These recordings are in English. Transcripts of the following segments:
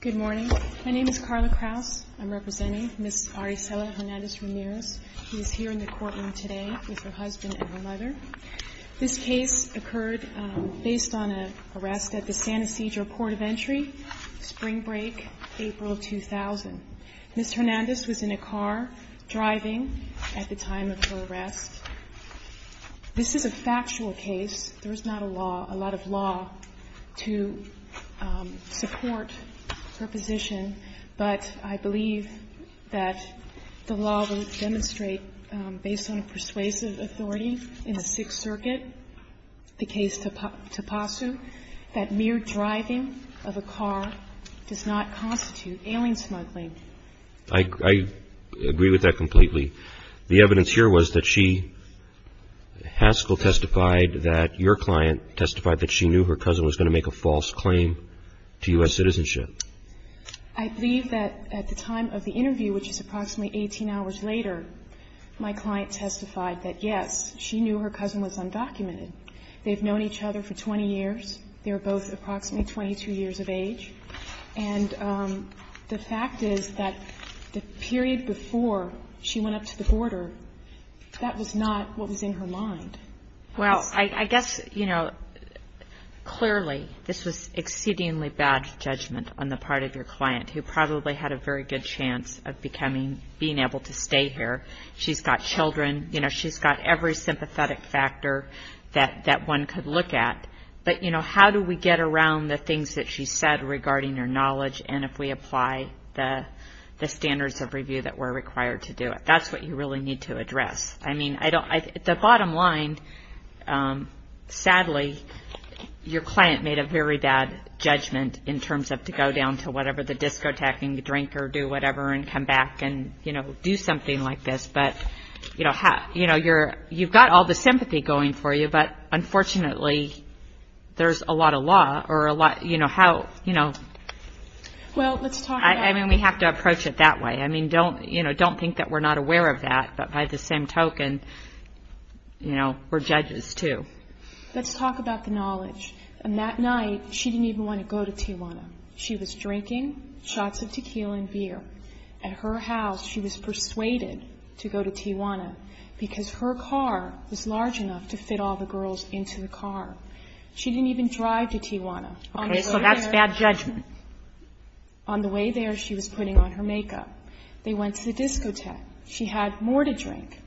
Good morning. My name is Carla Kraus. I'm representing Ms. Aracela Hernandez-Ramirez. She is here in the courtroom today with her husband and her mother. This case occurred based on an arrest at the San Ysidro Court of Entry, spring break, April 2000. Ms. Hernandez was in a car driving at the time of her arrest. This is a factual case. There is not a law, a lot of law, to support her position, but I believe that the law would demonstrate, based on persuasive authority in the Sixth Circuit, the case Tapasu, that mere driving of a car does not constitute ailing smuggling. I agree with that completely. The evidence here was that she, Haskell testified that your client testified that she knew her cousin was going to make a false claim to U.S. citizenship. I believe that at the time of the interview, which is approximately 18 hours later, my client testified that, yes, she knew her cousin was undocumented. They've known each other for 20 years. They were both approximately 22 years of age. And the fact is that the period before she went up to the border, that was not what was in her mind. Well, I guess, you know, clearly this was exceedingly bad judgment on the part of your client, who probably had a very good chance of becoming, being able to stay here. She's got children. You know, she's got every sympathetic factor that one could look at. But, you know, how do we get around the things that she said regarding her knowledge, and if we apply the standards of review that were required to do it? That's what you really need to address. I mean, the bottom line, sadly, your client made a very bad judgment in terms of to go down to whatever, the discotheque and drink or do whatever and come back and, you know, do something like this. But, you know, you've got all the sympathy going for you. But, unfortunately, there's a lot of law or a lot, you know, how, you know. Well, let's talk about. I mean, we have to approach it that way. I mean, don't, you know, don't think that we're not aware of that. But by the same token, you know, we're judges, too. Let's talk about the knowledge. And that night, she didn't even want to go to Tijuana. She was drinking shots of tequila and beer. At her house, she was persuaded to go to Tijuana because her car was large enough to fit all the girls into the car. She didn't even drive to Tijuana. Okay. So that's bad judgment. On the way there, she was putting on her makeup. They went to the discotheque. She had more to drink.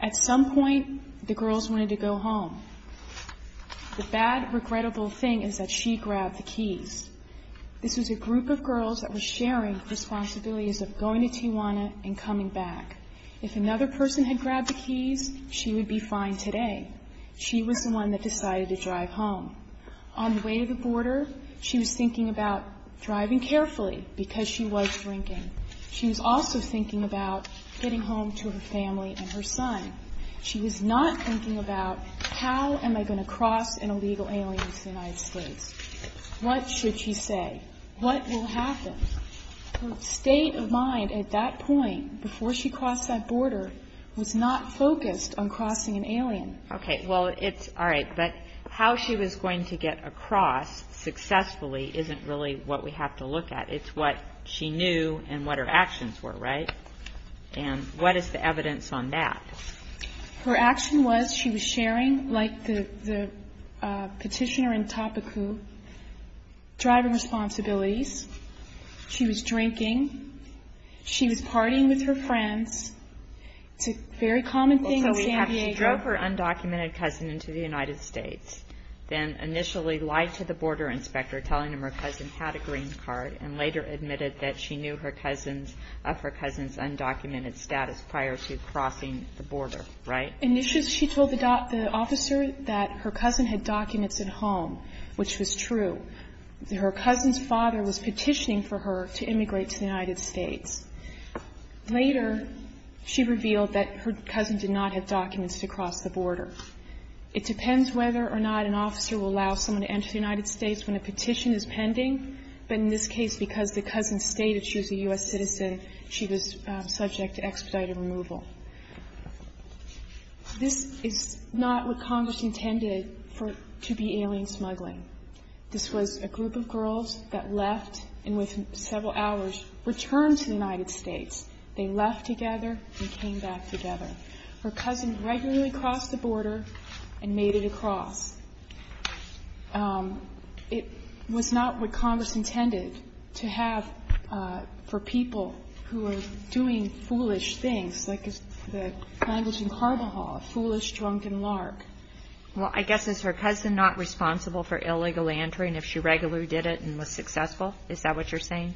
At some point, the girls wanted to go home. The bad, regrettable thing is that she grabbed the keys. This was a group of girls that were sharing responsibilities of going to Tijuana and coming back. If another person had grabbed the keys, she would be fine today. She was the one that decided to drive home. On the way to the border, she was thinking about driving carefully because she was drinking. She was also thinking about getting home to her family and her son. She was not thinking about, how am I going to cross an illegal alien to the United States? What should she say? What will happen? Her state of mind at that point, before she crossed that border, was not focused on crossing an alien. Okay. Well, it's all right. But how she was going to get across successfully isn't really what we have to look at. It's what she knew and what her actions were, right? And what is the evidence on that? Her action was she was sharing, like the petitioner in Topeku, driving responsibilities. She was drinking. She was partying with her friends. It's a very common thing in San Diego. She drove her undocumented cousin into the United States, then initially lied to the border inspector telling him her cousin had a green card, and later admitted that she knew of her cousin's undocumented status prior to crossing the border, right? Initially, she told the officer that her cousin had documents at home, which was true. Her cousin's father was petitioning for her to immigrate to the United States. Later, she revealed that her cousin did not have documents to cross the border. It depends whether or not an officer will allow someone to enter the United States when a petition is pending, but in this case, because the cousin stated she was a U.S. citizen, she was subject to expedited removal. This is not what Congress intended to be alien smuggling. This was a group of girls that left and within several hours returned to the United States. They left together and came back together. Her cousin regularly crossed the border and made it across. It was not what Congress intended to have for people who are doing foolish things, like the language in Carvajal, foolish, drunk, and lark. Well, I guess is her cousin not responsible for illegal entering if she regularly did it and was successful? Is that what you're saying?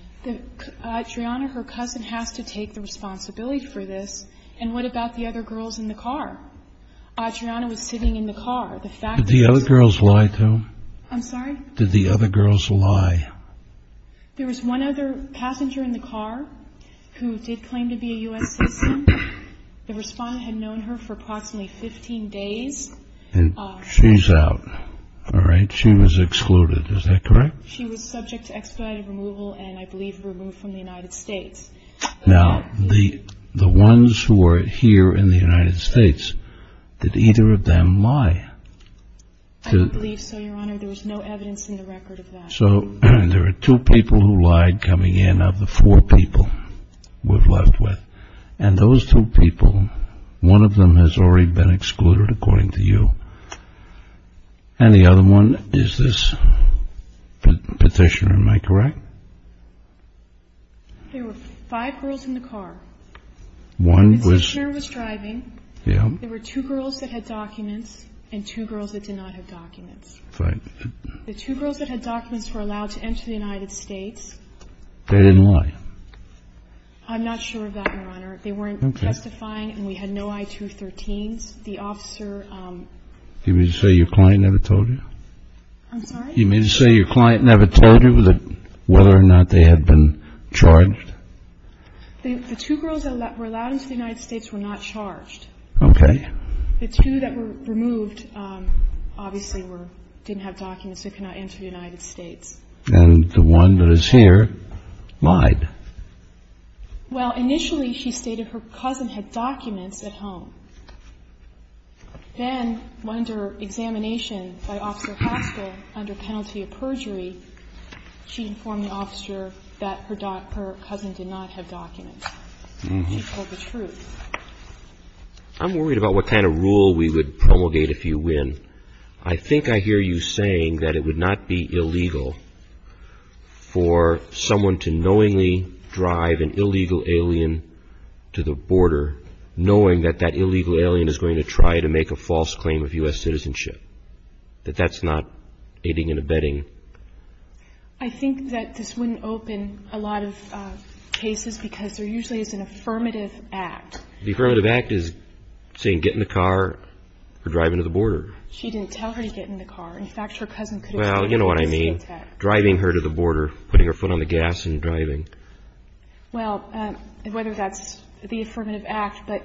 Adriana, her cousin, has to take the responsibility for this. And what about the other girls in the car? Adriana was sitting in the car. Did the other girls lie to him? I'm sorry? Did the other girls lie? There was one other passenger in the car who did claim to be a U.S. citizen. The respondent had known her for approximately 15 days. And she's out. All right. She was excluded. Is that correct? She was subject to expedited removal and I believe removed from the United States. Now, the ones who are here in the United States, did either of them lie? I don't believe so, Your Honor. There was no evidence in the record of that. So there are two people who lied coming in of the four people we're left with. And those two people, one of them has already been excluded, according to you. And the other one is this petitioner. Am I correct? There were five girls in the car. The petitioner was driving. There were two girls that had documents and two girls that did not have documents. The two girls that had documents were allowed to enter the United States. They didn't lie? I'm not sure of that, Your Honor. They weren't testifying and we had no I-213s. You mean to say your client never told you? I'm sorry? You mean to say your client never told you whether or not they had been charged? The two girls that were allowed into the United States were not charged. Okay. The two that were removed obviously didn't have documents. They could not enter the United States. And the one that is here lied? Well, initially she stated her cousin had documents at home. Then, under examination by Officer Haskell under penalty of perjury, she informed the officer that her cousin did not have documents. She told the truth. I'm worried about what kind of rule we would promulgate if you win. I think I hear you saying that it would not be illegal for someone to knowingly drive an illegal alien to the border, knowing that that illegal alien is going to try to make a false claim of U.S. citizenship, that that's not aiding and abetting. I think that this wouldn't open a lot of cases because there usually is an affirmative act. The affirmative act is saying get in the car or drive into the border. She didn't tell her to get in the car. In fact, her cousin could have done that. Well, you know what I mean. Driving her to the border, putting her foot on the gas and driving. Well, whether that's the affirmative act, but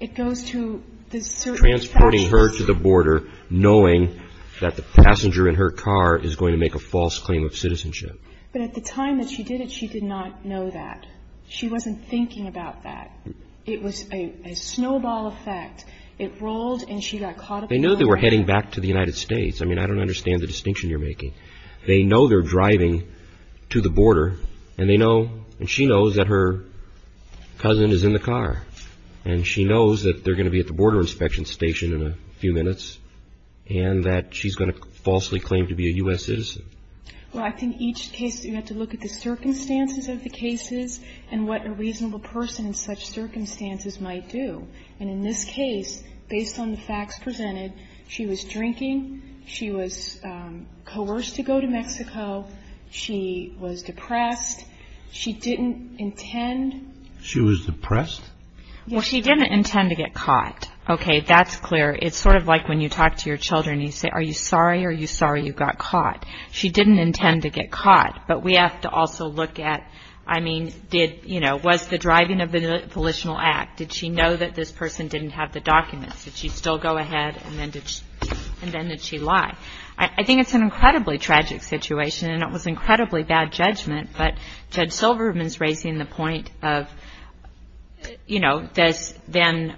it goes to the certain factions. Transporting her to the border, knowing that the passenger in her car is going to make a false claim of citizenship. But at the time that she did it, she did not know that. She wasn't thinking about that. It was a snowball effect. It rolled and she got caught. They knew they were heading back to the United States. I mean, I don't understand the distinction you're making. They know they're driving to the border and they know and she knows that her cousin is in the car and she knows that they're going to be at the border inspection station in a few minutes and that she's going to falsely claim to be a U.S. citizen. Well, I think each case you have to look at the circumstances of the cases and what a reasonable person in such circumstances might do. And in this case, based on the facts presented, she was drinking. She was coerced to go to Mexico. She was depressed. She didn't intend. She was depressed? Well, she didn't intend to get caught. Okay. That's clear. It's sort of like when you talk to your children and you say, are you sorry? Are you sorry you got caught? She didn't intend to get caught. But we have to also look at, I mean, did, you know, was the driving of the volitional act? Did she know that this person didn't have the documents? Did she still go ahead and then did she lie? I think it's an incredibly tragic situation and it was incredibly bad judgment, but Judge Silverman's raising the point of, you know, does then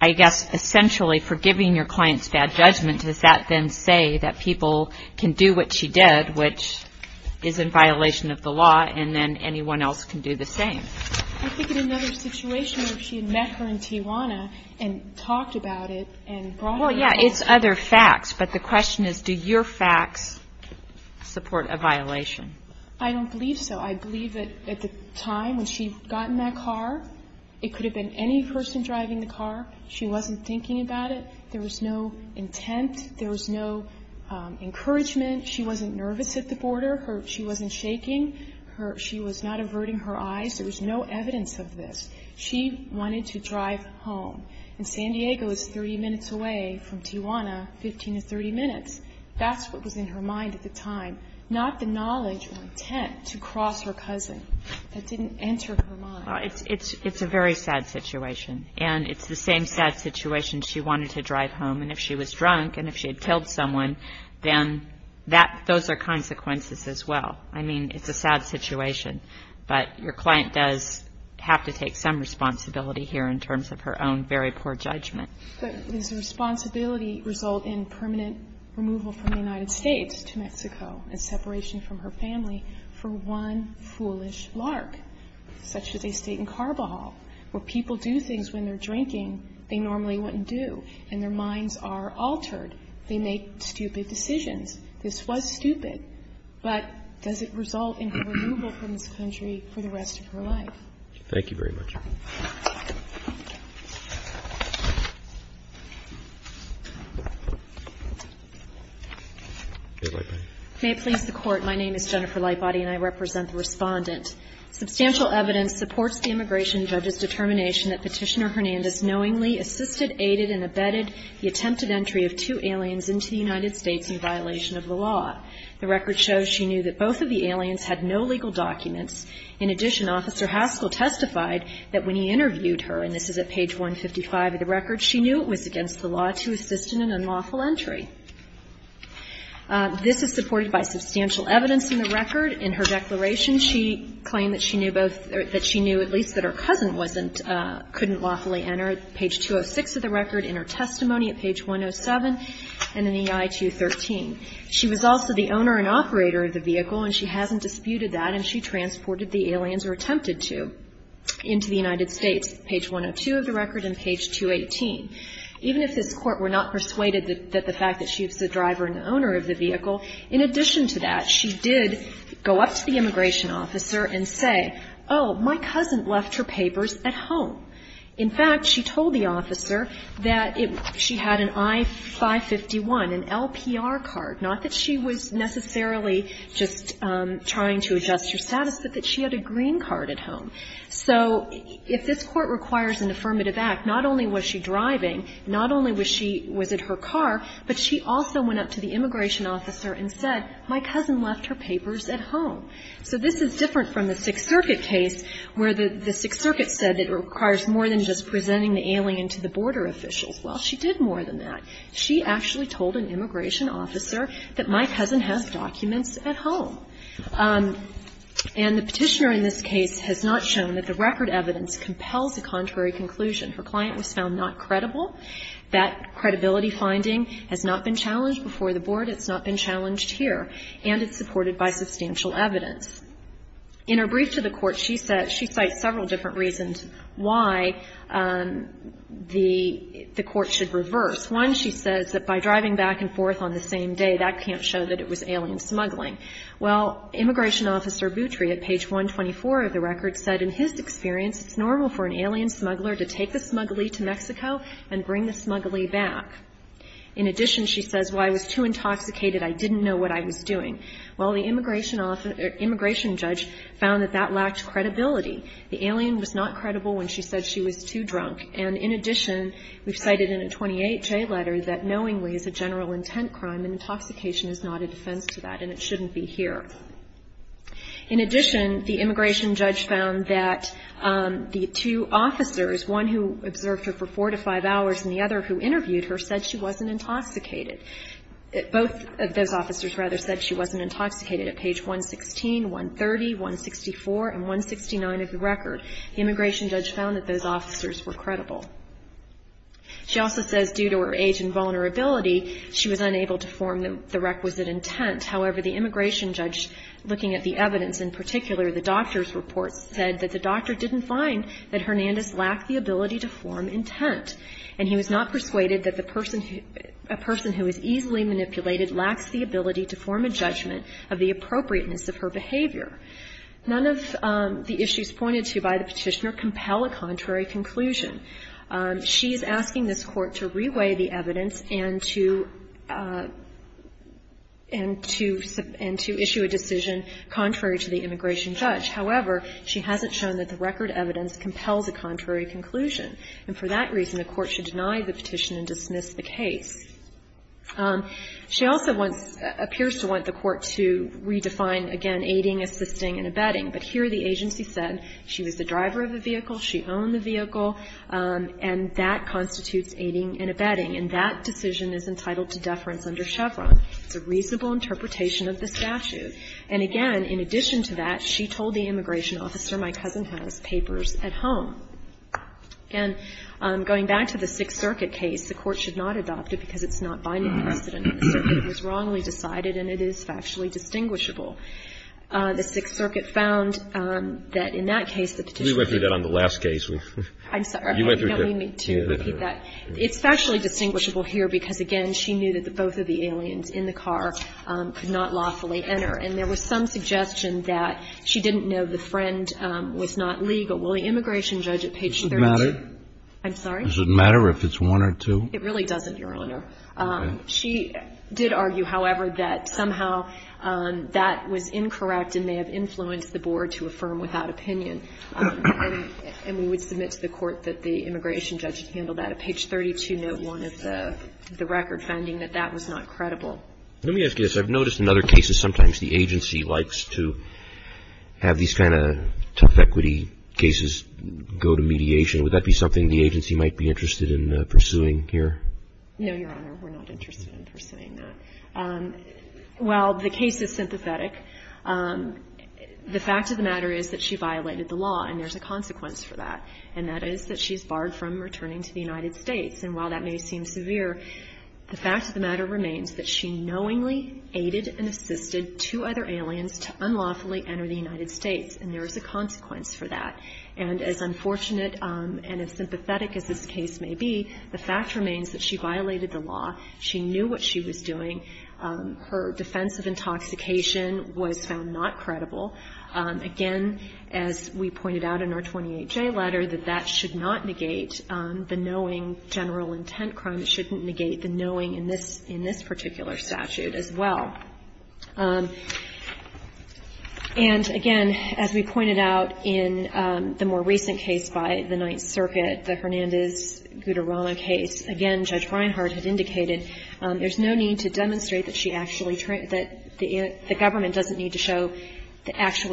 I guess essentially forgiving your client's bad judgment, does that then say that people can do what she did, which is in violation of the law and then anyone else can do the same? I think in another situation where she had met her in Tijuana and talked about it and brought it up. Well, yeah, it's other facts, but the question is, do your facts support a violation? I don't believe so. I believe that at the time when she got in that car, it could have been any person driving the car. She wasn't thinking about it. There was no intent. There was no encouragement. She wasn't nervous at the border. She wasn't shaking. She was not averting her eyes. There was no evidence of this. She wanted to drive home. And San Diego is 30 minutes away from Tijuana, 15 to 30 minutes. That's what was in her mind at the time, not the knowledge or intent to cross her cousin. That didn't enter her mind. It's a very sad situation, and it's the same sad situation she wanted to drive home, and if she was drunk and if she had killed someone, then those are consequences as well. I mean, it's a sad situation, but your client does have to take some responsibility here in terms of her own very poor judgment. Does the responsibility result in permanent removal from the United States to Mexico and separation from her family for one foolish lark, such as they state in Carbohol, where people do things when they're drinking they normally wouldn't do and their minds are altered? They make stupid decisions. This was stupid, but does it result in her removal from this country for the rest of her life? Thank you very much. Jennifer Lightbody. May it please the Court, my name is Jennifer Lightbody and I represent the Respondent. Substantial evidence supports the immigration judge's determination that Petitioner Hernandez knowingly assisted, aided and abetted the attempted entry of two aliens into the United States in violation of the law. The record shows she knew that both of the aliens had no legal documents. In addition, Officer Haskell testified that when he interviewed her, and this is at page 155 of the record, she knew it was against the law to assist in an unlawful entry. This is supported by substantial evidence in the record. In her declaration, she claimed that she knew both or that she knew at least that her cousin wasn't, couldn't lawfully enter, page 206 of the record, in her testimony at page 107, and in EI 213. She was also the owner and operator of the vehicle, and she hasn't disputed that, and she transported the aliens, or attempted to, into the United States, page 102 of the record and page 218. Even if this Court were not persuaded that the fact that she was the driver and owner of the vehicle, in addition to that, she did go up to the immigration officer and say, oh, my cousin left her papers at home. In fact, she told the officer that she had an I-551, an LPR card. Not that she was necessarily just trying to adjust her status, but that she had a green card at home. So if this Court requires an affirmative act, not only was she driving, not only was she driving, but she also went up to the immigration officer and said, my cousin left her papers at home. So this is different from the Sixth Circuit case, where the Sixth Circuit said it requires more than just presenting the alien to the border officials. Well, she did more than that. She actually told an immigration officer that my cousin has documents at home. And the Petitioner in this case has not shown that the record evidence compels a contrary conclusion. Her client was found not credible. That credibility finding has not been challenged before the Board. It's not been challenged here. And it's supported by substantial evidence. In her brief to the Court, she said she cites several different reasons why the Court should reverse. One, she says that by driving back and forth on the same day, that can't show that it was alien smuggling. Well, immigration officer Boutry at page 124 of the record said in his experience it's normal for an alien smuggler to take the smuggly to Mexico and bring the smuggly back. In addition, she says, well, I was too intoxicated. I didn't know what I was doing. Well, the immigration judge found that that lacked credibility. The alien was not credible when she said she was too drunk. And in addition, we've cited in a 28J letter that knowingly is a general intent crime, and intoxication is not a defense to that, and it shouldn't be here. In addition, the immigration judge found that the two officers, one who observed her for four to five hours and the other who interviewed her, said she wasn't intoxicated. Both of those officers, rather, said she wasn't intoxicated. At page 116, 130, 164, and 169 of the record, the immigration judge found that those officers were credible. She also says due to her age and vulnerability, she was unable to form the requisite intent. However, the immigration judge, looking at the evidence in particular, the doctor's report, said that the doctor didn't find that Hernandez lacked the ability to form intent. And he was not persuaded that a person who is easily manipulated lacks the ability to form a judgment of the appropriateness of her behavior. None of the issues pointed to by the petitioner compel a contrary conclusion. She's asking this Court to reweigh the evidence and to issue a decision contrary to the immigration judge. However, she hasn't shown that the record evidence compels a contrary conclusion, and for that reason, the Court should deny the petition and dismiss the case. She also wants, appears to want the Court to redefine, again, aiding, assisting, and abetting. But here the agency said she was the driver of the vehicle, she owned the vehicle, and that constitutes aiding and abetting. And that decision is entitled to deference under Chevron. It's a reasonable interpretation of the statute. And again, in addition to that, she told the immigration officer, my cousin has papers at home. Again, going back to the Sixth Circuit case, the Court should not adopt it because it's not binding precedent. It was wrongly decided and it is factually distinguishable. The Sixth Circuit found that in that case the petitioner could not adopt it. I'm sorry. I don't mean to repeat that. It's factually distinguishable here because, again, she knew that both of the aliens in the car could not lawfully enter. And there was some suggestion that she didn't know the friend was not legal. Well, the immigration judge at page 32. Kennedy. Does it matter? I'm sorry? Does it matter if it's one or two? It really doesn't, Your Honor. Okay. She did argue, however, that somehow that was incorrect and may have influenced the board to affirm without opinion. And we would submit to the Court that the immigration judge handled that. At page 32, note one of the record finding that that was not credible. Let me ask you this. I've noticed in other cases sometimes the agency likes to have these kind of tough equity cases go to mediation. Would that be something the agency might be interested in pursuing here? No, Your Honor. We're not interested in pursuing that. And that is that she's barred from returning to the United States. And while that may seem severe, the fact of the matter remains that she knowingly aided and assisted two other aliens to unlawfully enter the United States. And there is a consequence for that. And as unfortunate and as sympathetic as this case may be, the fact remains that she violated the law. She knew what she was doing. Her defense of intoxication was found not credible. Again, as we pointed out in our 28J letter, that that should not negate the knowing general intent crime. It shouldn't negate the knowing in this particular statute as well. And, again, as we pointed out in the more recent case by the Ninth Circuit, the Hernandez-Guterrano case, again, Judge Reinhardt had indicated there's no need to demonstrate that she had actual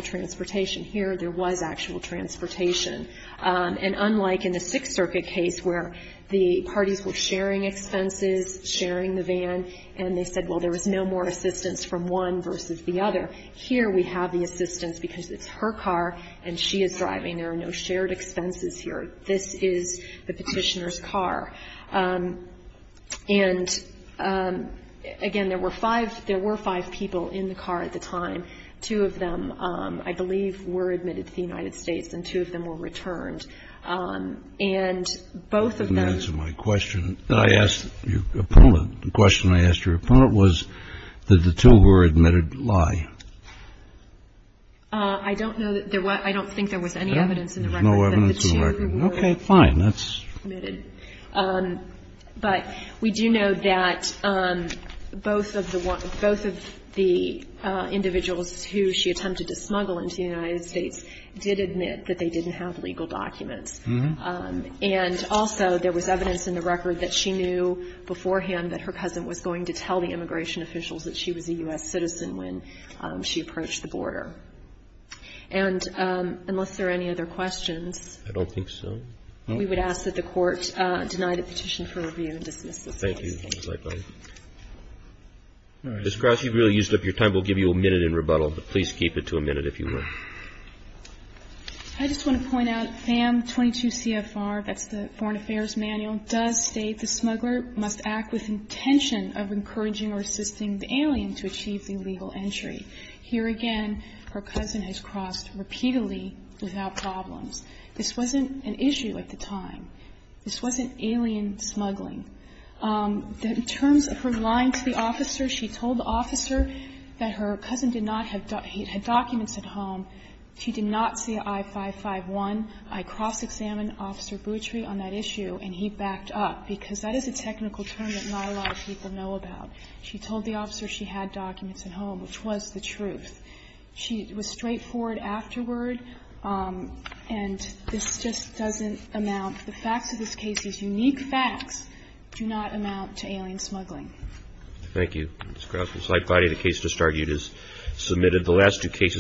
transportation. Here, there was actual transportation. And unlike in the Sixth Circuit case where the parties were sharing expenses, sharing the van, and they said, well, there was no more assistance from one versus the other, here we have the assistance because it's her car and she is driving. There are no shared expenses here. This is the petitioner's car. And, again, there were five people in the car at the time. Two of them, I believe, were admitted to the United States, and two of them were returned. And both of them ---- Kennedy, you didn't answer my question. I asked your opponent. The question I asked your opponent was did the two who were admitted lie? I don't know that there was ---- I don't think there was any evidence in the record that the two who were admitted were lying. Okay, fine. That's ---- But we do know that both of the individuals who she attempted to smuggle into the United States did admit that they didn't have legal documents. And also there was evidence in the record that she knew beforehand that her cousin was going to tell the immigration officials that she was a U.S. citizen when she approached the border. And unless there are any other questions ---- I don't think so. We would ask that the Court deny the petition for review and dismiss this case. Thank you. Ms. Gross, you've really used up your time. We'll give you a minute in rebuttal, but please keep it to a minute if you would. I just want to point out, FAM 22 CFR, that's the Foreign Affairs Manual, does state the smuggler must act with intention of encouraging or assisting the alien to achieve the legal entry. Here again, her cousin has crossed repeatedly without problems. This wasn't an issue at the time. This wasn't alien smuggling. In terms of her lying to the officer, she told the officer that her cousin did not have ---- he had documents at home. She did not see I-551. I cross-examined Officer Boutry on that issue, and he backed up, because that is a technical term that not a lot of people know about. She told the officer she had documents at home, which was the truth. She was straightforward afterward. And this just doesn't amount to the facts of this case. These unique facts do not amount to alien smuggling. Thank you, Ms. Gross. I'm glad the case has started. It is submitted. The last two cases ----